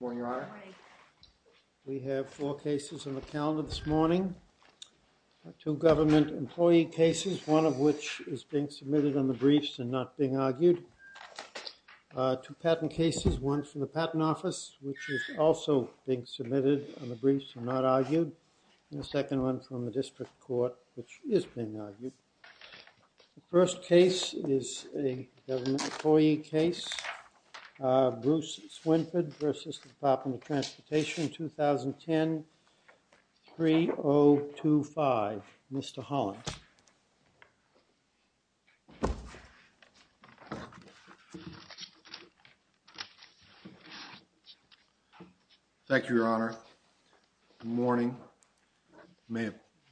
We have four cases on the calendar this morning. Two government employee cases, one of which is being submitted on the briefs and not being argued. Two patent cases, one from the Patent Office, which is also being submitted on the briefs and not argued, and the second one from the District Court, which is being argued. The first case is a government employee case, Bruce Swinford v. Department of Transportation, 2010-3025. Mr. Holland. Thank you, Your Honor. Good morning. May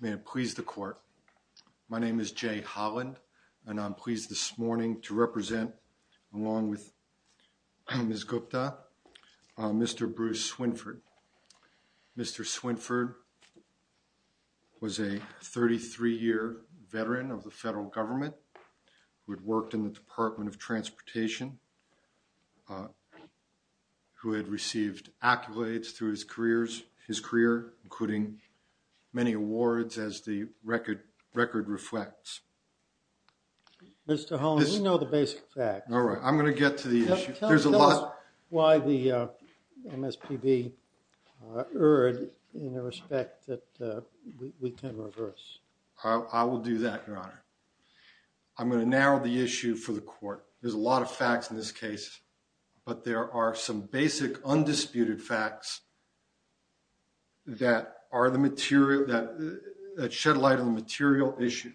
it please the Court. My name is Jay Holland and I'm pleased this morning to represent, along with Ms. Gupta, Mr. Bruce Swinford. Mr. Swinford was a 33-year veteran of the federal government, who had worked in the Department of Transportation, who had received accolades through his career, including many awards, as the record reflects. Mr. Holland, we know the basic facts. All right, I'm going to get to the basic facts that are erred in the respect that we can reverse. I will do that, Your Honor. I'm going to narrow the issue for the Court. There's a lot of facts in this case, but there are some basic, undisputed facts that are the material, that shed light on the material issue,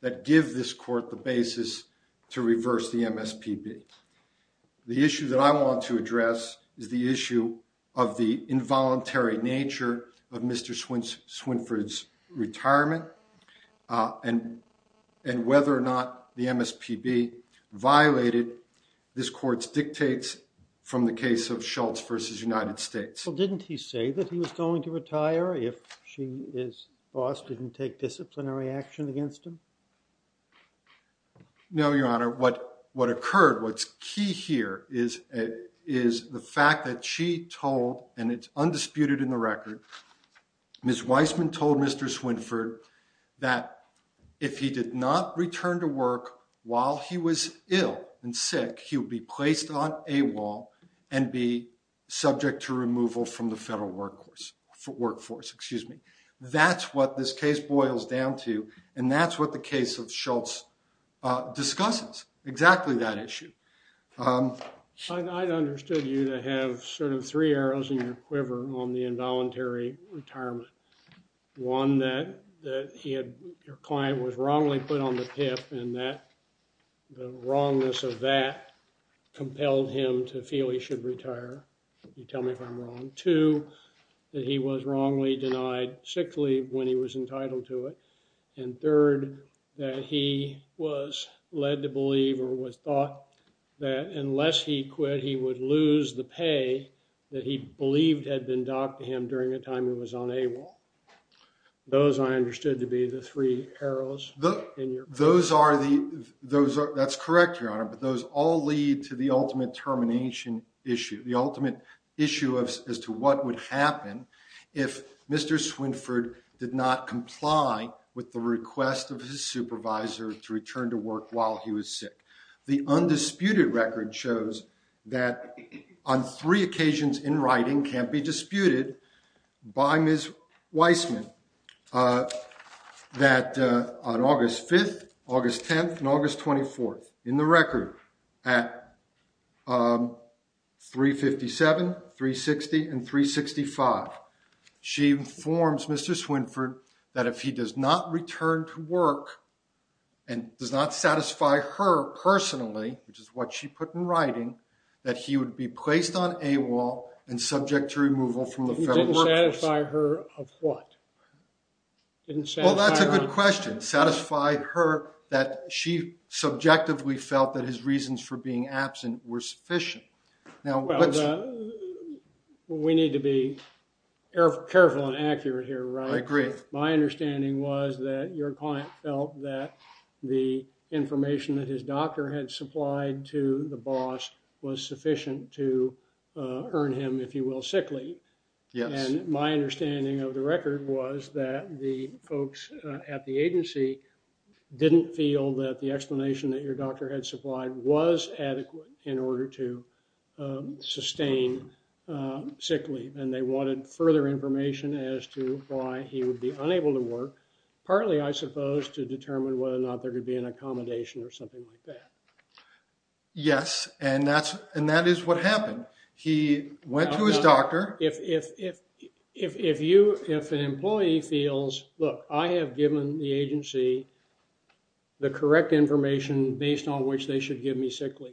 that give this Court the basis to reverse the MSPB. The issue that I want to address is the issue of the involuntary nature of Mr. Swinford's retirement, and whether or not the MSPB violated this Court's dictates from the case of Schultz v. United States. Well, didn't he say that he was going to retire if she, his boss, didn't take disciplinary action against him? No, Your Honor. What occurred, what's key here, is the fact that she told, and it's undisputed in the record, Ms. Weissman told Mr. Swinford that if he did not return to work while he was ill and sick, he would be placed on a wall and be subject to removal from the federal workforce. That's what this case boils down to, and that's what the case of Schultz discusses, exactly that issue. I understood you to have sort of three arrows in your quiver on the involuntary retirement. One, that your client was wrongly put on the PIP, and the wrongness of that compelled him to feel he should retire. You tell me if I'm wrong. Two, that he was wrongly denied sick leave when he was entitled to it. And third, that he was led to believe or was thought that unless he quit, he would lose the pay that he believed had been docked to him during a time he was on a wall. Those I understood to be the three arrows in your quiver. That's correct, Your Honor, but those all lead to the ultimate termination issue, the ultimate issue as to what would happen if Mr. Swinford did not comply with the request of his supervisor to return to work while he was sick. The undisputed record shows that on three occasions in writing can't be disputed by Ms. Weissman, that on August 5th, August 10th, and August 24th, in the record at 357, 360, and 365, she informs Mr. Swinford that if he does not return to work and does not satisfy her personally, which is what she put in writing, that he would be placed on a wall and subject to removal from the federal workforce. Satisfy her of what? Well, that's a good question. Satisfy her that she subjectively felt that his reasons for being absent were sufficient. Now, we need to be careful and accurate here, right? I agree. My understanding was that your client felt that the information that his doctor had supplied to the boss was sufficient to earn him, if you will, sick leave. Yes. And my understanding of the record was that the folks at the agency didn't feel that the explanation that your doctor had supplied was adequate in order to sustain sick leave, and they wanted further information as to why he would be unable to work, partly, I suppose, to determine whether or not there could be an accommodation or something like that. Yes, and that is what happened. He went to his doctor. If an employee feels, look, I have given the agency the correct information based on which they should give me sick leave,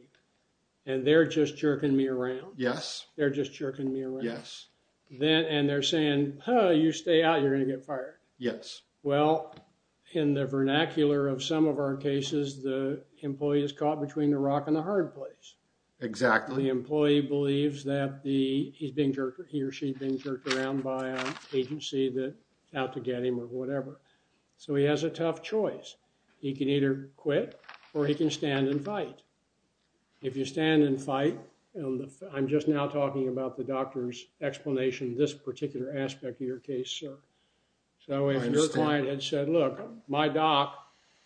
and they're just jerking me around. Yes. They're just jerking me around. Yes. And they're saying, you stay out, you're going to get fired. Yes. Well, in the vernacular of some of our cases, the employee is caught between the rock and the hard place. Exactly. The employee believes that he or she is being jerked around by an agency out to get him or whatever. So he has a tough choice. He can either quit or he can stand and fight. If you stand and fight, I'm just now talking about the doctor's explanation of this particular aspect of your case, sir. So if your client had said, look, my doc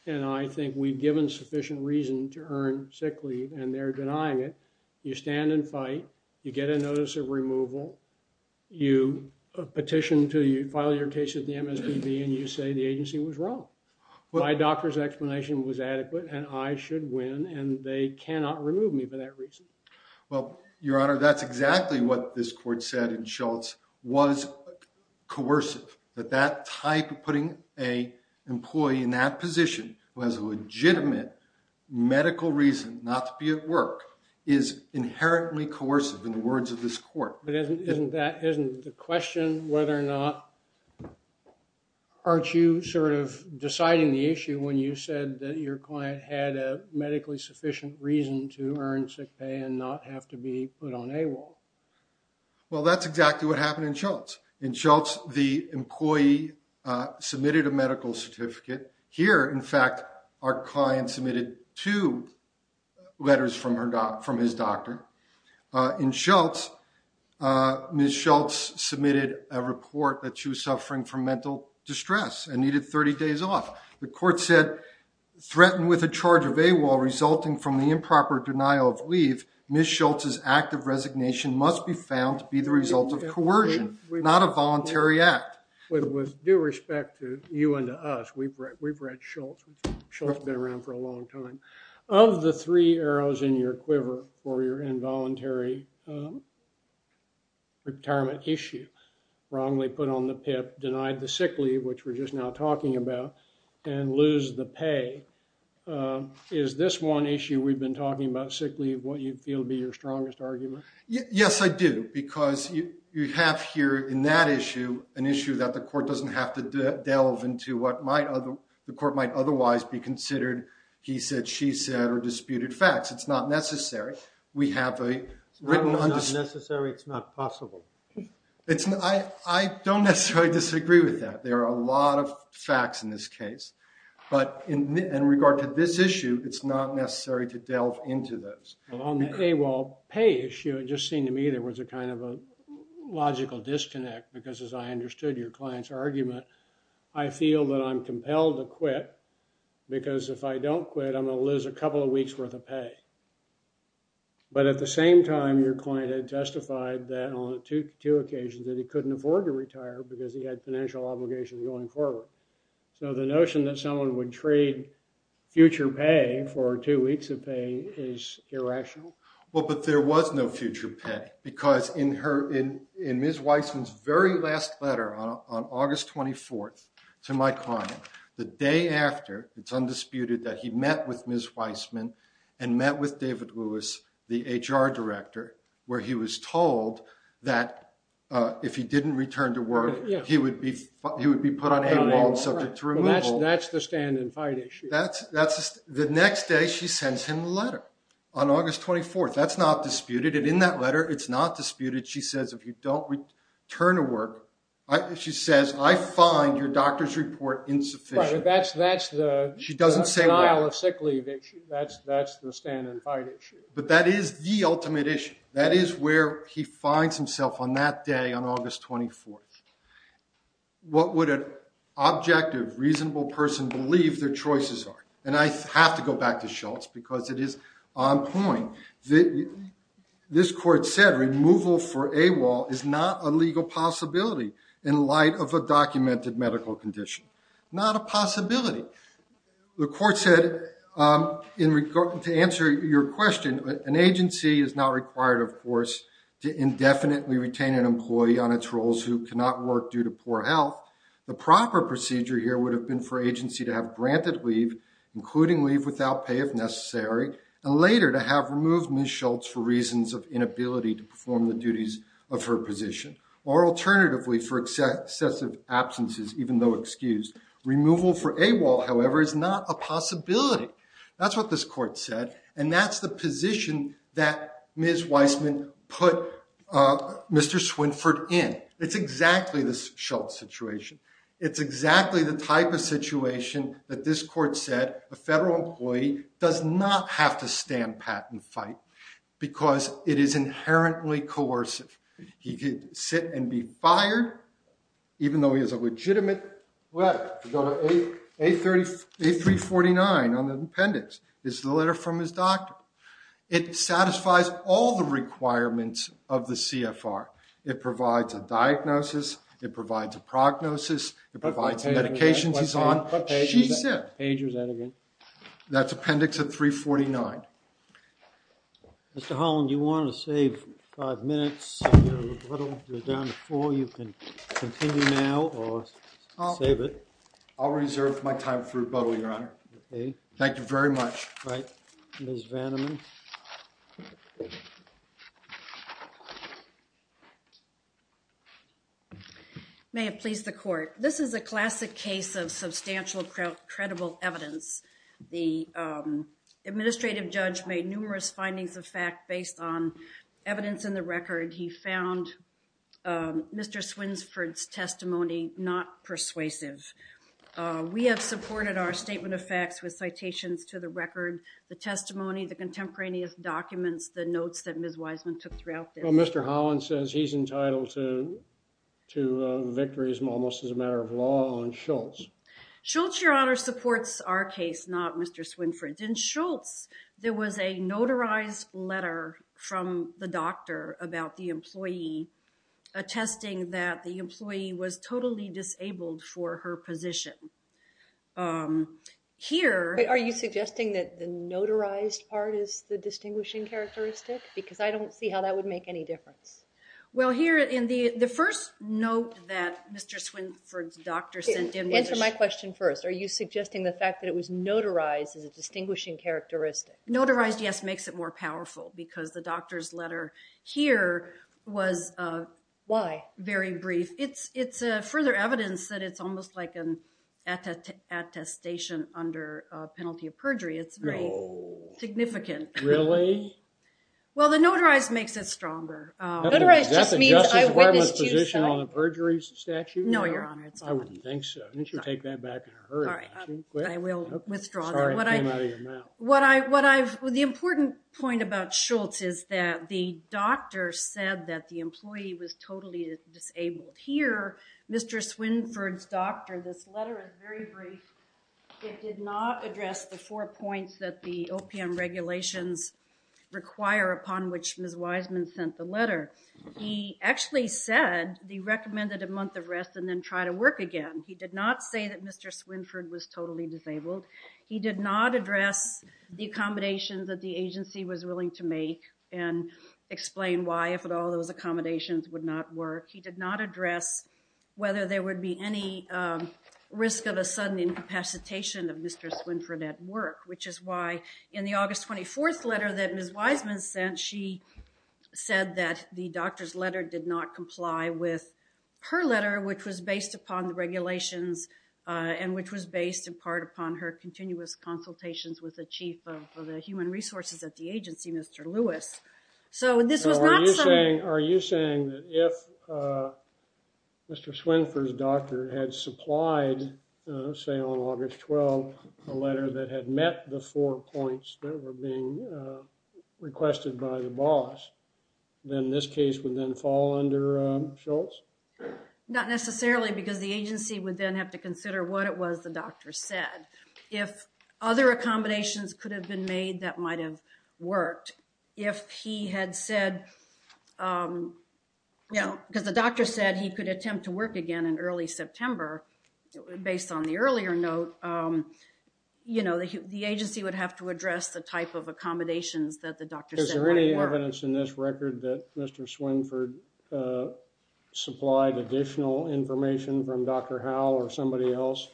and I think we've given sufficient reason to earn sick leave and they're denying it, you stand and fight, you get a notice of removal, you petition to file your case at the MSPB and you say the agency was wrong. My doctor's explanation was adequate and I should win and they cannot remove me for that reason. Well, Your Honor, that's exactly what this court said in Shultz was coercive. But that type of putting a employee in that position who has a legitimate medical reason not to be at work is inherently coercive in the words of this court. But isn't that isn't the question whether or not aren't you sort of deciding the issue when you said that your client had a medically sufficient reason to earn sick pay and not have to be put on a wall? Well, that's exactly what happened in Shultz. In Shultz, the employee submitted a medical certificate here. In fact, our client submitted two letters from her doc from his doctor in Shultz. Ms. Shultz submitted a report that she was suffering from mental distress and needed 30 days off. The court said threatened with a charge of AWOL resulting from the improper denial of leave. Ms. Shultz's act of resignation must be found to be the result of coercion, not a voluntary act. With due respect to you and to us, we've read Shultz. Shultz has been around for a long time. Of the three arrows in your quiver for your involuntary retirement issue, wrongly put on the PIP, denied the sick leave, which we're just now talking about, and lose the pay, is this one issue we've been talking about sick leave what you feel would be your strongest argument? Yes, I do. Because you have here in that issue an issue that the court doesn't have to delve into what the court might otherwise be considered he said, she said, or disputed facts. It's not necessary. It's not necessary. It's not possible. I don't necessarily disagree with that. There are a lot of facts in this case. But in regard to this issue, it's not necessary to delve into those. Well, on the AWOL pay issue, it just seemed to me there was a kind of a logical disconnect. Because as I understood your client's argument, I feel that I'm compelled to quit. Because if I don't quit, I'm going to lose a couple of weeks worth of pay. But at the same time, your client had testified that on two occasions that he couldn't afford to retire because he had financial obligations going forward. So the notion that someone would trade future pay for two weeks of pay is irrational. Well, but there was no future pay. Because in her, in Ms. Weissman's very last letter on August 24th to my client, the day after it's undisputed that he met with Ms. Weissman and met with David Lewis, the HR director, where he was told that if he didn't return to work, he would be put on AWOL. That's the stand and fight issue. The next day, she sends him a letter on August 24th. That's not disputed. And in that letter, it's not disputed. She says, if you don't return to work, she says, I find your doctor's report insufficient. That's the denial of sick leave issue. That's the stand and fight issue. But that is the ultimate issue. That is where he finds himself on that day on August 24th. What would an objective, reasonable person believe their choices are? And I have to go back to Schultz, because it is on point. This court said removal for AWOL is not a legal possibility in light of a documented medical condition. Not a possibility. The court said, to answer your question, an agency is not required, of course, to indefinitely retain an employee on its roles who cannot work due to poor health. The proper procedure here would have been for agency to have granted leave, including leave without pay if necessary, and later to have removed Ms. Schultz for reasons of inability to perform the duties of her position. Or alternatively, for excessive absences, even though excused. Removal for AWOL, however, is not a possibility. That's what this court said. And that's the position that Ms. Weissman put Mr. Swinford in. It's exactly the Schultz situation. It's exactly the type of situation that this court said a federal employee does not have to stand, pat, and fight, because it is inherently coercive. He could sit and be fired, even though he has a legitimate letter. Go to A349 on the appendix. This is the letter from his doctor. It satisfies all the requirements of the CFR. It provides a diagnosis. It provides a prognosis. It provides the medications he's on. She's sick. What page was that again? That's appendix 349. Mr. Holland, you wanted to save five minutes. You're down to four. You can continue now or save it. I'll reserve my time for rebuttal, Your Honor. Thank you very much. All right. Ms. Vanderman. May it please the court. This is a classic case of substantial credible evidence. The administrative judge made numerous findings of fact based on evidence in the record. He found Mr. Swinsford's testimony not persuasive. We have supported our statement of facts with citations to the record, the testimony, the contemporaneous documents, the notes that Ms. Wiseman took throughout this. Well, Mr. Holland says he's entitled to victories almost as a matter of law on Schultz. Schultz, Your Honor, supports our case, not Mr. Swinsford's. In Schultz, there was a notarized letter from the doctor about the employee attesting that the employee was totally disabled for her position. Here. Are you suggesting that the notarized part is the distinguishing characteristic? Because I don't see how that would make any difference. Well, here in the first note that Mr. Swinsford's doctor sent him. Answer my question first. Are you suggesting the fact that it was notarized is a distinguishing characteristic? Notarized, yes, makes it more powerful because the doctor's letter here was very brief. It's further evidence that it's almost like an attestation under penalty of perjury. It's significant. Really? Well, the notarized makes it stronger. Notarized just means I witnessed you, so. Is that the Justice Department's position on a perjury statute? No, Your Honor, it's not. I wouldn't think so. Why don't you take that back in a hurry? All right. I will withdraw that. Sorry it came out of your mouth. The important point about Schultz is that the doctor said that the employee was totally disabled. Here, Mr. Swinsford's doctor, this letter is very brief. It did not address the four points that the OPM regulations require upon which Ms. Wiseman sent the letter. He actually said he recommended a month of rest and then try to work again. He did not say that Mr. Swinsford was totally disabled. He did not address the accommodations that the agency was willing to make and explain why, if at all, those accommodations would not work. He did not address whether there would be any risk of a sudden incapacitation of Mr. Swinsford at work, which is why in the August 24th letter that Ms. Wiseman sent, she said that the doctor's letter did not comply with her letter, which was based upon the regulations and which was based in part upon her continuous consultations with the chief of the human resources at the agency, Mr. Lewis. Are you saying that if Mr. Swinsford's doctor had supplied, say, on August 12th, a letter that had met the four points that were being requested by the boss, then this case would then fall under Schultz? Not necessarily because the agency would then have to consider what it was the doctor said. If other accommodations could have been made, that might have worked. If he had said, you know, because the doctor said he could attempt to work again in early September, based on the earlier note, you know, the agency would have to address the type of accommodations that the doctor said might work. Is there any evidence in this record that Mr. Swinsford supplied additional information from Dr. Howell or somebody else?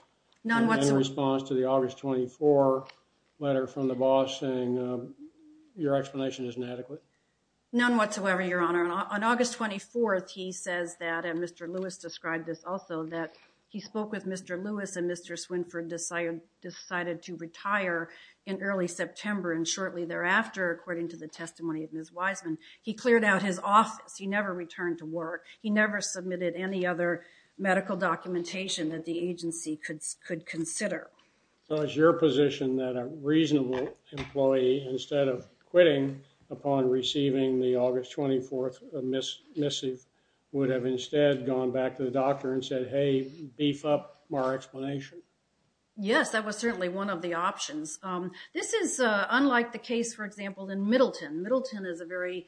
None whatsoever. Any response to the August 24 letter from the boss saying your explanation isn't adequate? None whatsoever, Your Honor. On August 24th, he says that, and Mr. Lewis described this also, that he spoke with Mr. Lewis and Mr. Swinsford decided to retire in early September, and shortly thereafter, according to the testimony of Ms. Wiseman, he cleared out his office. He never returned to work. He never submitted any other medical documentation that the agency could consider. So it's your position that a reasonable employee, instead of quitting upon receiving the August 24th missive, would have instead gone back to the doctor and said, hey, beef up our explanation? Yes, that was certainly one of the options. This is unlike the case, for example, in Middleton. Middleton is a very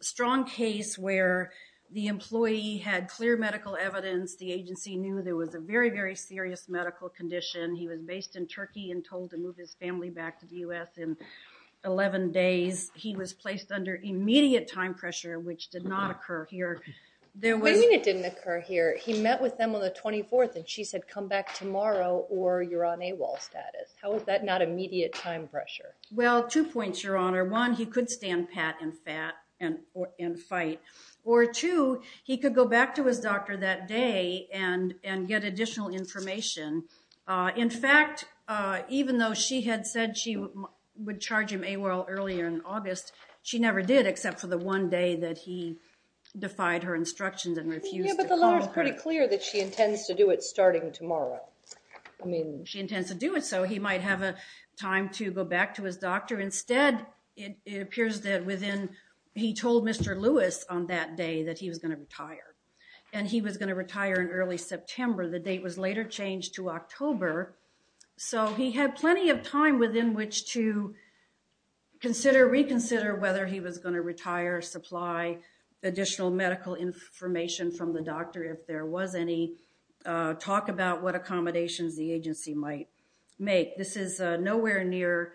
strong case where the employee had clear medical evidence. The agency knew there was a very, very serious medical condition. He was based in Turkey and told to move his family back to the U.S. in 11 days. He was placed under immediate time pressure, which did not occur here. What do you mean it didn't occur here? He met with them on the 24th, and she said come back tomorrow or you're on AWOL status. How is that not immediate time pressure? Well, two points, Your Honor. One, he could stand pat and fight. Or two, he could go back to his doctor that day and get additional information. In fact, even though she had said she would charge him AWOL earlier in August, she never did except for the one day that he defied her instructions and refused to call her. Yeah, but the lawyer is pretty clear that she intends to do it starting tomorrow. She intends to do it so he might have a time to go back to his doctor. Instead, it appears that within he told Mr. Lewis on that day that he was going to retire, and he was going to retire in early September. The date was later changed to October. So he had plenty of time within which to consider, reconsider whether he was going to retire, supply additional medical information from the doctor if there was any, talk about what accommodations the agency might make. This is nowhere near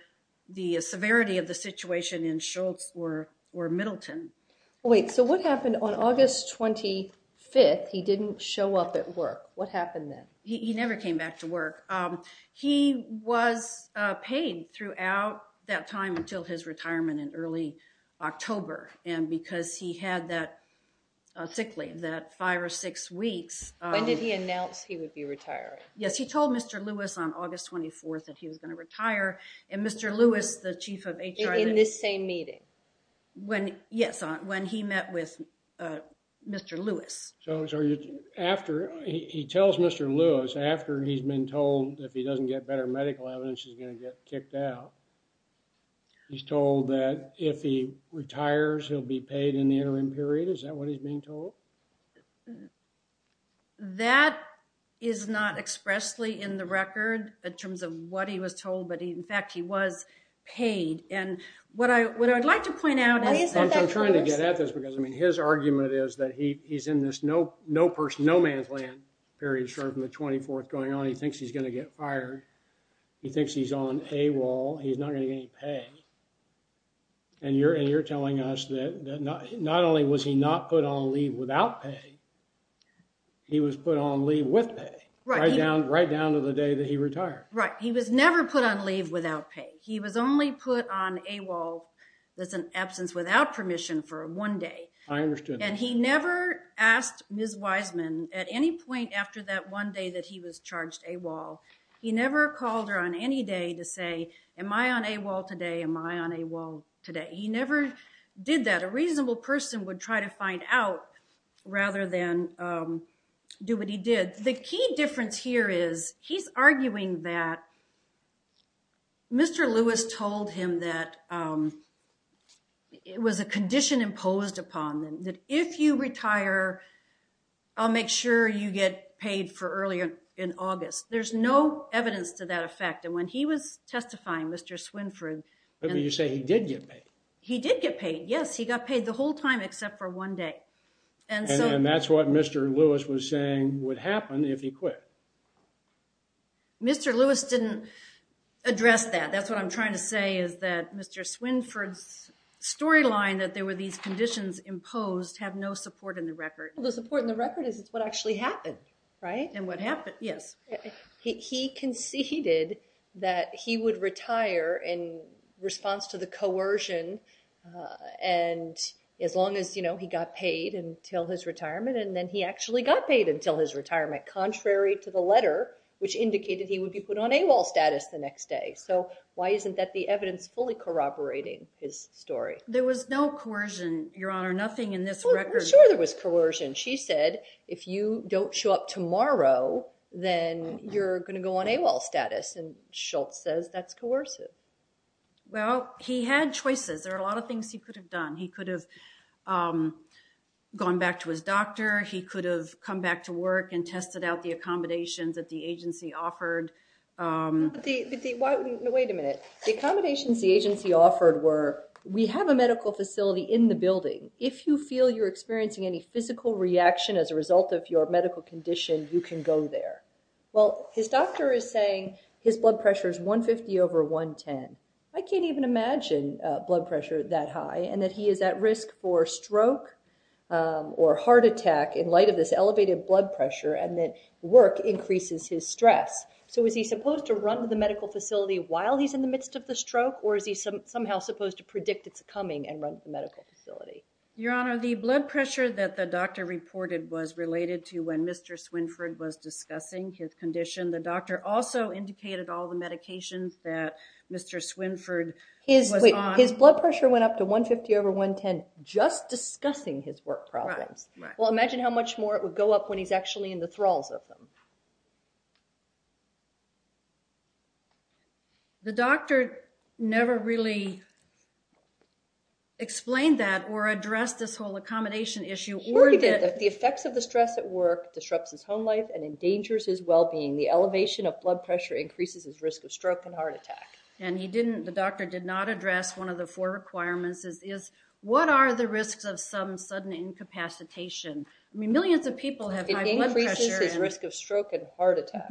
the severity of the situation in Schultz or Middleton. Wait, so what happened on August 25th? He didn't show up at work. What happened then? He never came back to work. He was paid throughout that time until his retirement in early October, and because he had that sick leave, that five or six weeks. When did he announce he would be retiring? Yes, he told Mr. Lewis on August 24th that he was going to retire, and Mr. Lewis, the chief of HR. In this same meeting? Yes, when he met with Mr. Lewis. So he tells Mr. Lewis after he's been told if he doesn't get better medical evidence, he's going to get kicked out. He's told that if he retires, he'll be paid in the interim period. Is that what he's being told? That is not expressly in the record in terms of what he was told, but, in fact, he was paid. And what I'd like to point out is – I'm trying to get at this because, I mean, his argument is that he's in this no man's land period starting from the 24th going on. He thinks he's going to get fired. He thinks he's on a wall. He's not going to get any pay, and you're telling us that not only was he not put on leave without pay, he was put on leave with pay right down to the day that he retired. Right. He was never put on leave without pay. He was only put on a wall that's an absence without permission for one day. I understood that. And he never asked Ms. Wiseman at any point after that one day that he was charged a wall, he never called her on any day to say, am I on a wall today? Am I on a wall today? He never did that. A reasonable person would try to find out rather than do what he did. The key difference here is he's arguing that Mr. Lewis told him that it was a condition imposed upon him, that if you retire, I'll make sure you get paid for earlier in August. There's no evidence to that effect. And when he was testifying, Mr. Swinford. You say he did get paid? He did get paid. Yes, he got paid the whole time except for one day. And that's what Mr. Lewis was saying would happen if he quit. Mr. Lewis didn't address that. That's what I'm trying to say is that Mr. Swinford's storyline that there were these conditions imposed have no support in the record. The support in the record is what actually happened, right? And what happened, yes. He conceded that he would retire in response to the coercion as long as he got paid until his retirement, and then he actually got paid until his retirement, contrary to the letter, which indicated he would be put on AWOL status the next day. So why isn't that the evidence fully corroborating his story? There was no coercion, Your Honor, nothing in this record. Sure there was coercion. She said if you don't show up tomorrow, then you're going to go on AWOL status, and Schultz says that's coercive. Well, he had choices. There are a lot of things he could have done. He could have gone back to his doctor. He could have come back to work and tested out the accommodations that the agency offered. Wait a minute. The accommodations the agency offered were we have a medical facility in the building. If you feel you're experiencing any physical reaction as a result of your medical condition, you can go there. Well, his doctor is saying his blood pressure is 150 over 110. I can't even imagine blood pressure that high and that he is at risk for stroke or heart attack in light of this elevated blood pressure and that work increases his stress. So is he supposed to run to the medical facility while he's in the midst of the stroke, or is he somehow supposed to predict its coming and run to the medical facility? Your Honor, the blood pressure that the doctor reported was related to when Mr. Swinford was discussing his condition. The doctor also indicated all the medications that Mr. Swinford was on. His blood pressure went up to 150 over 110 just discussing his work problems. Well, imagine how much more it would go up when he's actually in the thralls of them. The doctor never really explained that or addressed this whole accommodation issue. He did. The effects of the stress at work disrupts his home life and endangers his well-being. The elevation of blood pressure increases his risk of stroke and heart attack. And the doctor did not address one of the four requirements. What are the risks of some sudden incapacitation? I mean, millions of people have high blood pressure. It increases his risk of stroke and heart attack.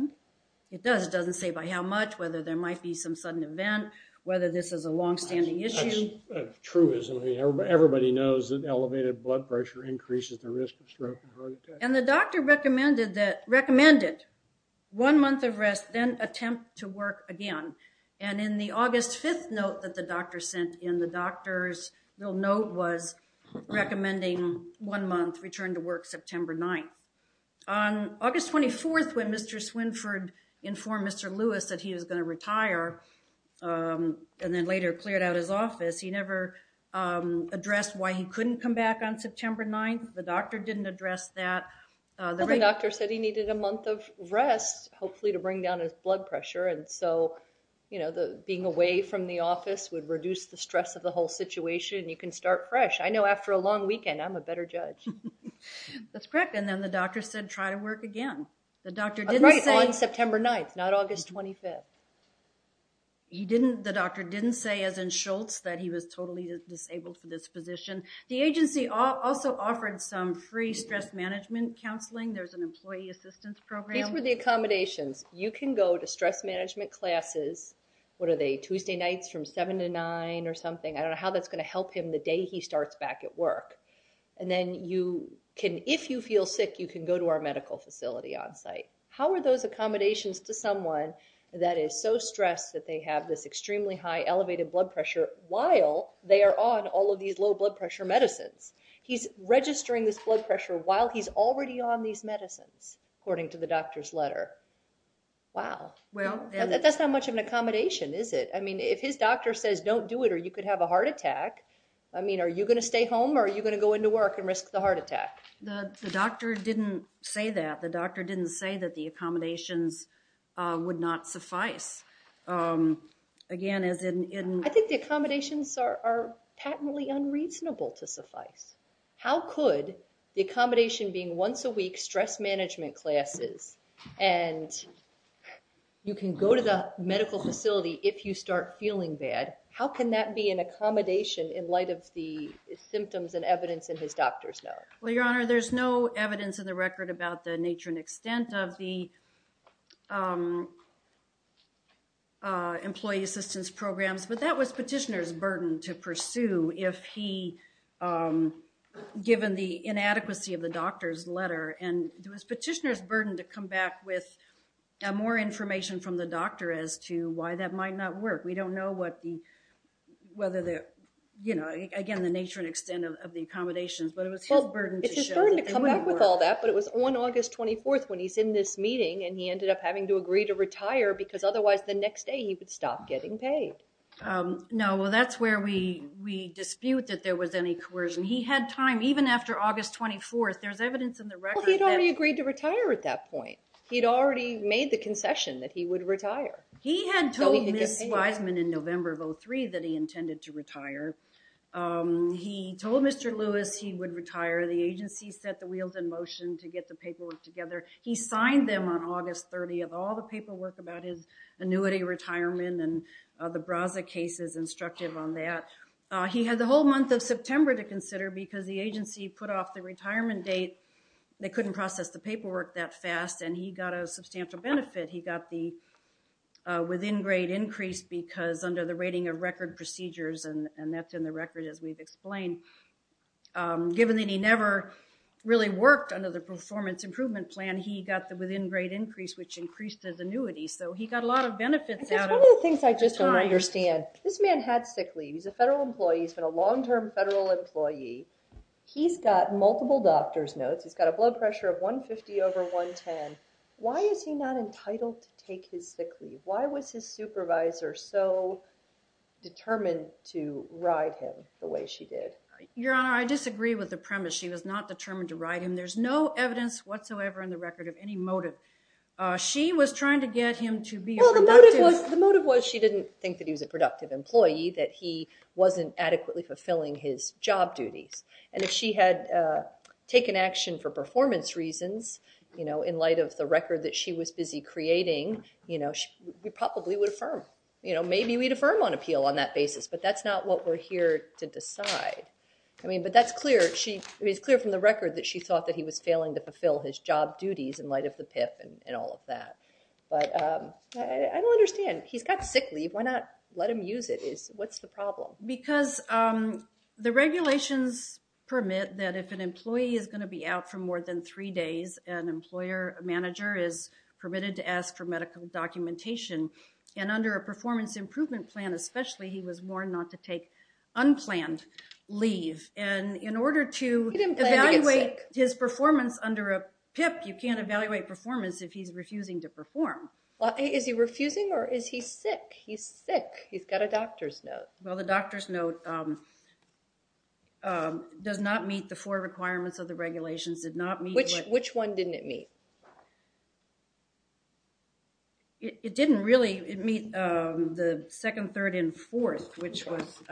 It does. It doesn't say by how much, whether there might be some sudden event, whether this is a longstanding issue. That's truism. I mean, everybody knows that elevated blood pressure increases the risk of stroke and heart attack. And the doctor recommended one month of rest, then attempt to work again. And in the August 5th note that the doctor sent in, the doctor's little note was recommending one month, return to work September 9th. On August 24th, when Mr. Swinford informed Mr. Lewis that he was going to retire and then later cleared out his office, he never addressed why he couldn't come back on September 9th. The doctor didn't address that. Well, the doctor said he needed a month of rest, hopefully to bring down his blood pressure. And so, you know, being away from the office would reduce the stress of the whole situation. You can start fresh. I know after a long weekend, I'm a better judge. That's correct. And then the doctor said try to work again. Right, on September 9th, not August 25th. The doctor didn't say, as in Schultz, that he was totally disabled for this position. The agency also offered some free stress management counseling. There's an employee assistance program. These were the accommodations. You can go to stress management classes. What are they, Tuesday nights from 7 to 9 or something? I don't know how that's going to help him the day he starts back at work. And then you can, if you feel sick, you can go to our medical facility on site. How are those accommodations to someone that is so stressed that they have this extremely high elevated blood pressure while they are on all of these low blood pressure medicines? He's registering this blood pressure while he's already on these medicines, according to the doctor's letter. Wow. Well, that's not much of an accommodation, is it? I mean, if his doctor says don't do it or you could have a heart attack, I mean, are you going to stay home or are you going to go into work and risk the heart attack? The doctor didn't say that. The doctor didn't say that the accommodations would not suffice. I think the accommodations are patently unreasonable to suffice. How could the accommodation being once a week stress management classes and you can go to the medical facility if you start feeling bad, how can that be an accommodation in light of the symptoms and evidence in his doctor's note? Well, Your Honor, there's no evidence in the record about the nature and extent of the employee assistance programs, but that was petitioner's burden to pursue if he, given the inadequacy of the doctor's letter. And it was petitioner's burden to come back with more information from the doctor as to why that might not work. We don't know what the, whether the, you know, again, the nature and extent of the accommodations, but it was his burden to show that they wouldn't work. Well, it's his burden to come back with all that, but it was on August 24th when he's in this meeting and he ended up having to agree to retire because otherwise the next day he would stop getting paid. No, well, that's where we dispute that there was any coercion. He had time even after August 24th. There's evidence in the record that... Well, he had already agreed to retire at that point. He had already made the concession that he would retire. He had told Ms. Wiseman in November of 03 that he intended to retire. He told Mr. Lewis he would retire. The agency set the wheels in motion to get the paperwork together. He signed them on August 30th. All the paperwork about his annuity retirement and the Braza case is instructive on that. He had the whole month of September to consider because the agency put off the retirement date. They couldn't process the paperwork that fast, and he got a substantial benefit. He got the within-grade increase because under the rating of record procedures, and that's in the record as we've explained, given that he never really worked under the performance improvement plan, he got the within-grade increase, which increased his annuity. So he got a lot of benefits out of it. It's one of the things I just don't understand. This man had sick leave. He's a federal employee. He's been a long-term federal employee. He's got multiple doctor's notes. He's got a blood pressure of 150 over 110. Why is he not entitled to take his sick leave? Why was his supervisor so determined to ride him the way she did? Your Honor, I disagree with the premise. She was not determined to ride him. There's no evidence whatsoever in the record of any motive. She was trying to get him to be productive. Well, the motive was she didn't think that he was a productive employee, that he wasn't adequately fulfilling his job duties. And if she had taken action for performance reasons, you know, in light of the record that she was busy creating, you know, we probably would affirm. You know, maybe we'd affirm on appeal on that basis, but that's not what we're here to decide. I mean, but that's clear. It's clear from the record that she thought that he was failing to fulfill his job duties in light of the PIP and all of that. But I don't understand. He's got sick leave. Why not let him use it? What's the problem? Because the regulations permit that if an employee is going to be out for more than three days, an employer manager is permitted to ask for medical documentation. And under a performance improvement plan especially, he was warned not to take unplanned leave. And in order to evaluate his performance under a PIP, you can't evaluate performance if he's refusing to perform. Is he refusing or is he sick? He's sick. He's got a doctor's note. Well, the doctor's note does not meet the four requirements of the regulations, did not meet. Which one didn't it meet? It didn't really. It meet the second, third, and fourth, which was.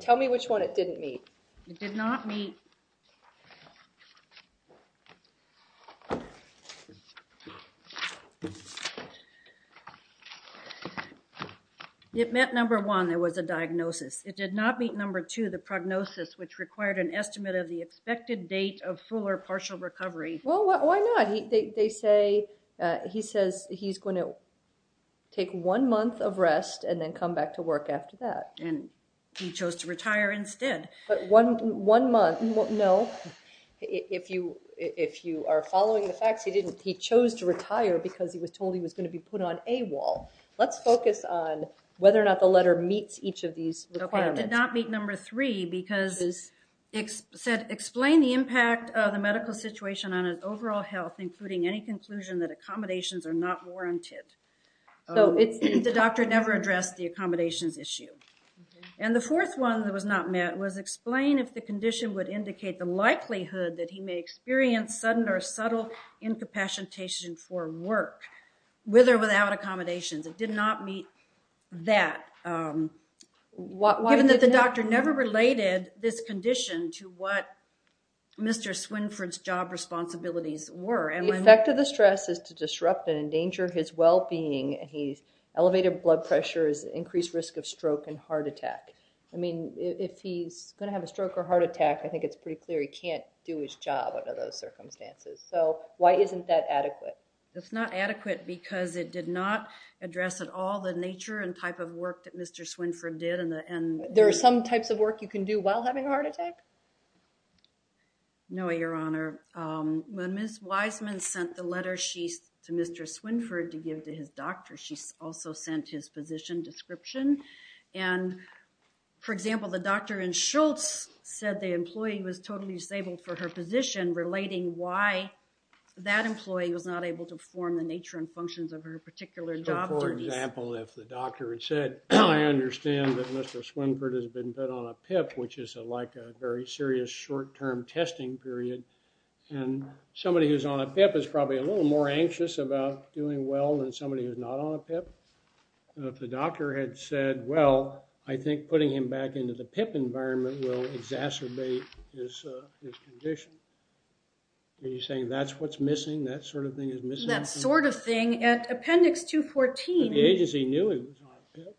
Tell me which one it didn't meet. It did not meet. Okay. It met number one, there was a diagnosis. It did not meet number two, the prognosis, which required an estimate of the expected date of full or partial recovery. Well, why not? They say he says he's going to take one month of rest and then come back to work after that. And he chose to retire instead. But one month, no. If you are following the facts, he didn't. He chose to retire because he was told he was going to be put on a wall. Let's focus on whether or not the letter meets each of these requirements. It did not meet number three because it said, explain the impact of the medical situation on his overall health, including any conclusion that accommodations are not warranted. So the doctor never addressed the accommodations issue. And the fourth one that was not met was, explain if the condition would indicate the likelihood that he may experience sudden or subtle incapacitation for work, with or without accommodations. It did not meet that, given that the doctor never related this condition to what Mr. Swinford's job responsibilities were. The effect of the stress is to disrupt and endanger his well-being. Elevated blood pressure is increased risk of stroke and heart attack. I mean, if he's going to have a stroke or heart attack, I think it's pretty clear he can't do his job under those circumstances. So why isn't that adequate? It's not adequate because it did not address at all the nature and type of work that Mr. Swinford did. There are some types of work you can do while having a heart attack? No, Your Honor. When Ms. Wiseman sent the letter to Mr. Swinford to give to his doctor, she also sent his physician description. And, for example, the doctor in Schultz said the employee was totally disabled for her position, relating why that employee was not able to perform the nature and functions of her particular job. So, for example, if the doctor had said, I understand that Mr. Swinford has been put on a PIP, which is like a very serious short-term testing period, and somebody who's on a PIP is probably a little more anxious about doing well than somebody who's not on a PIP. If the doctor had said, well, I think putting him back into the PIP environment will exacerbate his condition, are you saying that's what's missing? That sort of thing is missing? That sort of thing. At Appendix 214. But the agency knew he was on a PIP.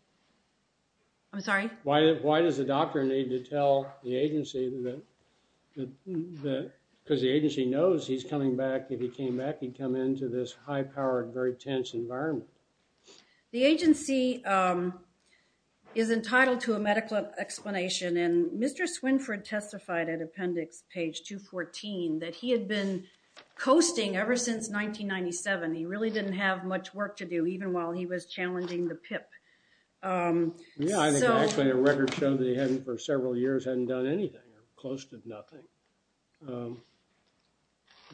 I'm sorry? Why does the doctor need to tell the agency that, because the agency knows he's coming back, if he came back he'd come into this high-powered, very tense environment. The agency is entitled to a medical explanation, and Mr. Swinford testified at Appendix page 214 that he had been coasting ever since 1997. He really didn't have much work to do, even while he was challenging the PIP. Yeah, I think actually the records show that he hadn't, for several years, hadn't done anything. Close to nothing.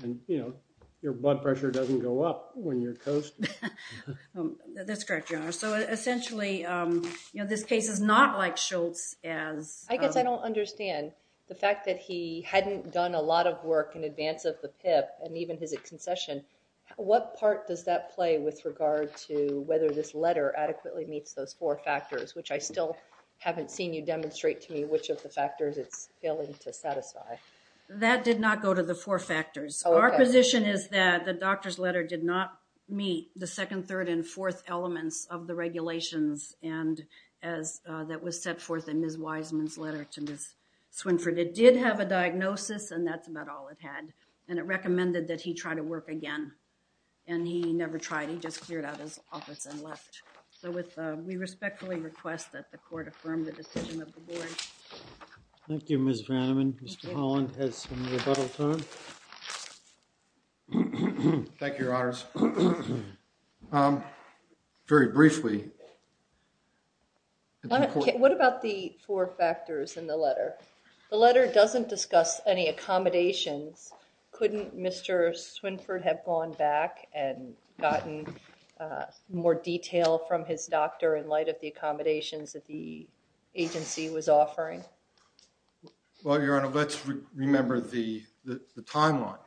And, you know, your blood pressure doesn't go up when you're coasting. That's correct, Your Honor. So essentially, you know, this case is not like Schultz's as. I guess I don't understand the fact that he hadn't done a lot of work in advance of the PIP and even his concession. What part does that play with regard to whether this letter adequately meets those four factors, which I still haven't seen you demonstrate to me which of the factors it's failing to satisfy. That did not go to the four factors. Our position is that the doctor's letter did not meet the second, third, and fourth elements of the regulations that was set forth in Ms. Wiseman's letter to Ms. Swinford. It did have a diagnosis, and that's about all it had. And it recommended that he try to work again, and he never tried. He just cleared out his office and left. So we respectfully request that the court affirm the decision of the board. Thank you, Ms. Vanneman. Mr. Holland has some rebuttal time. Thank you, Your Honors. Very briefly. What about the four factors in the letter? The letter doesn't discuss any accommodations. Couldn't Mr. Swinford have gone back and gotten more detail from his doctor in light of the accommodations that the agency was offering? Well, Your Honor, let's remember the timeline.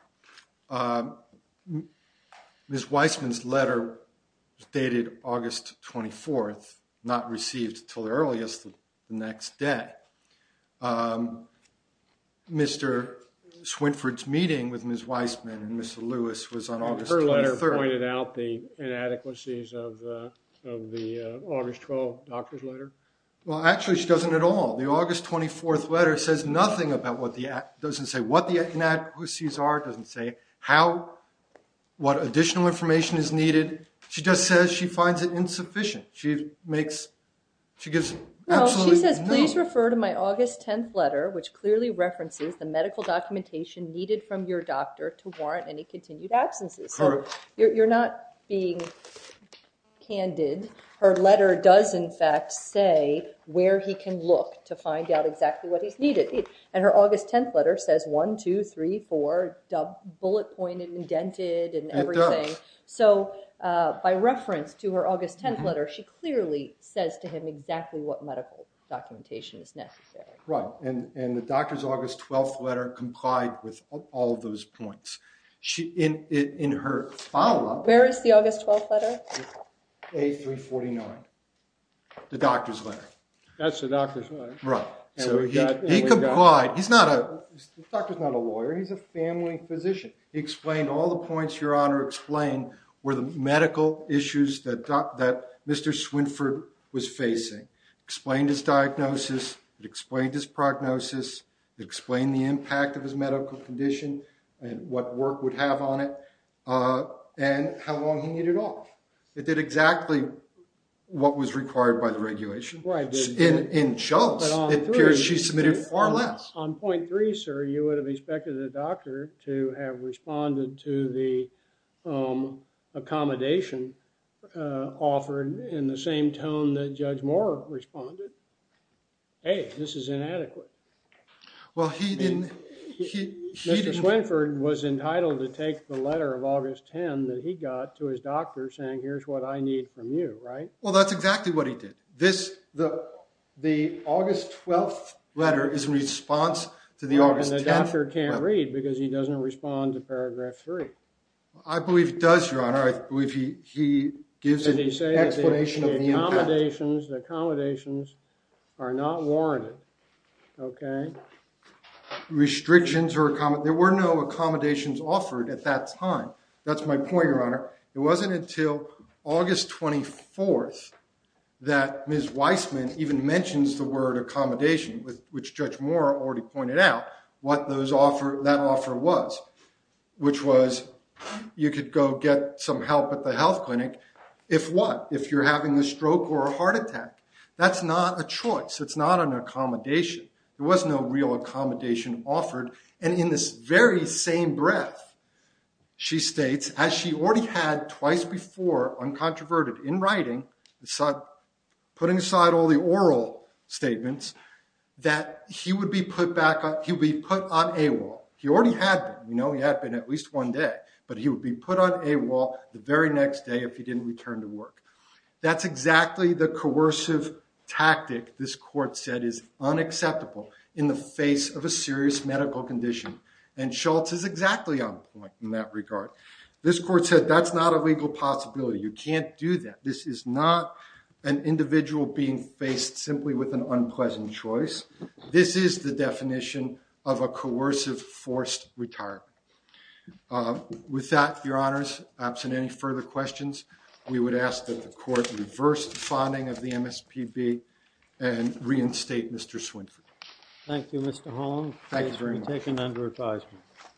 Ms. Wiseman's letter was dated August 24th, not received until the earliest of the next day. Mr. Swinford's meeting with Ms. Wiseman and Mr. Lewis was on August 23rd. Her letter pointed out the inadequacies of the August 12th doctor's letter? Well, actually, she doesn't at all. The August 24th letter says nothing about what the inadequacies are. It doesn't say what additional information is needed. She just says she finds it insufficient. She says, please refer to my August 10th letter, which clearly references the medical documentation needed from your doctor to warrant any continued absences. You're not being candid. Her letter does, in fact, say where he can look to find out exactly what is needed. And her August 10th letter says one, two, three, four, bullet-pointed, indented, and everything. So by reference to her August 10th letter, she clearly says to him exactly what medical documentation is necessary. Right. And the doctor's August 12th letter complied with all of those points. In her follow-up… Where is the August 12th letter? A349, the doctor's letter. That's the doctor's letter. Right. So he complied. The doctor's not a lawyer. He's a family physician. He explained all the points Your Honor explained were the medical issues that Mr. Swinford was facing. He explained his diagnosis. He explained his prognosis. He explained the impact of his medical condition and what work would have on it and how long he needed off. It did exactly what was required by the regulation. Right. In Shultz, it appears she submitted far less. On point three, sir, you would have expected the doctor to have responded to the accommodation offered in the same tone that Judge Moore responded. Hey, this is inadequate. Well, he didn't… Mr. Swinford was entitled to take the letter of August 10th that he got to his doctor saying here's what I need from you, right? Well, that's exactly what he did. The August 12th letter is in response to the August 10th letter. And the doctor can't read because he doesn't respond to paragraph three. I believe he does, Your Honor. I believe he gives an explanation of the impact. The accommodations are not warranted, okay? Restrictions or accommodations. There were no accommodations offered at that time. That's my point, Your Honor. It wasn't until August 24th that Ms. Weissman even mentions the word accommodation, which Judge Moore already pointed out, what that offer was, which was you could go get some help at the health clinic if what? If you're having a stroke or a heart attack. That's not a choice. It's not an accommodation. There was no real accommodation offered. And in this very same breath, she states, as she already had twice before, uncontroverted, in writing, putting aside all the oral statements, that he would be put on AWOL. He already had been. We know he had been at least one day. But he would be put on AWOL the very next day if he didn't return to work. That's exactly the coercive tactic this court said is unacceptable in the face of a serious medical condition. And Schultz is exactly on point in that regard. This court said that's not a legal possibility. You can't do that. This is not an individual being faced simply with an unpleasant choice. This is the definition of a coercive forced retirement. With that, Your Honors, absent any further questions, we would ask that the court reverse the finding of the MSPB and reinstate Mr. Swinford. Thank you, Mr. Holm. Thank you very much. This has been taken under advisement.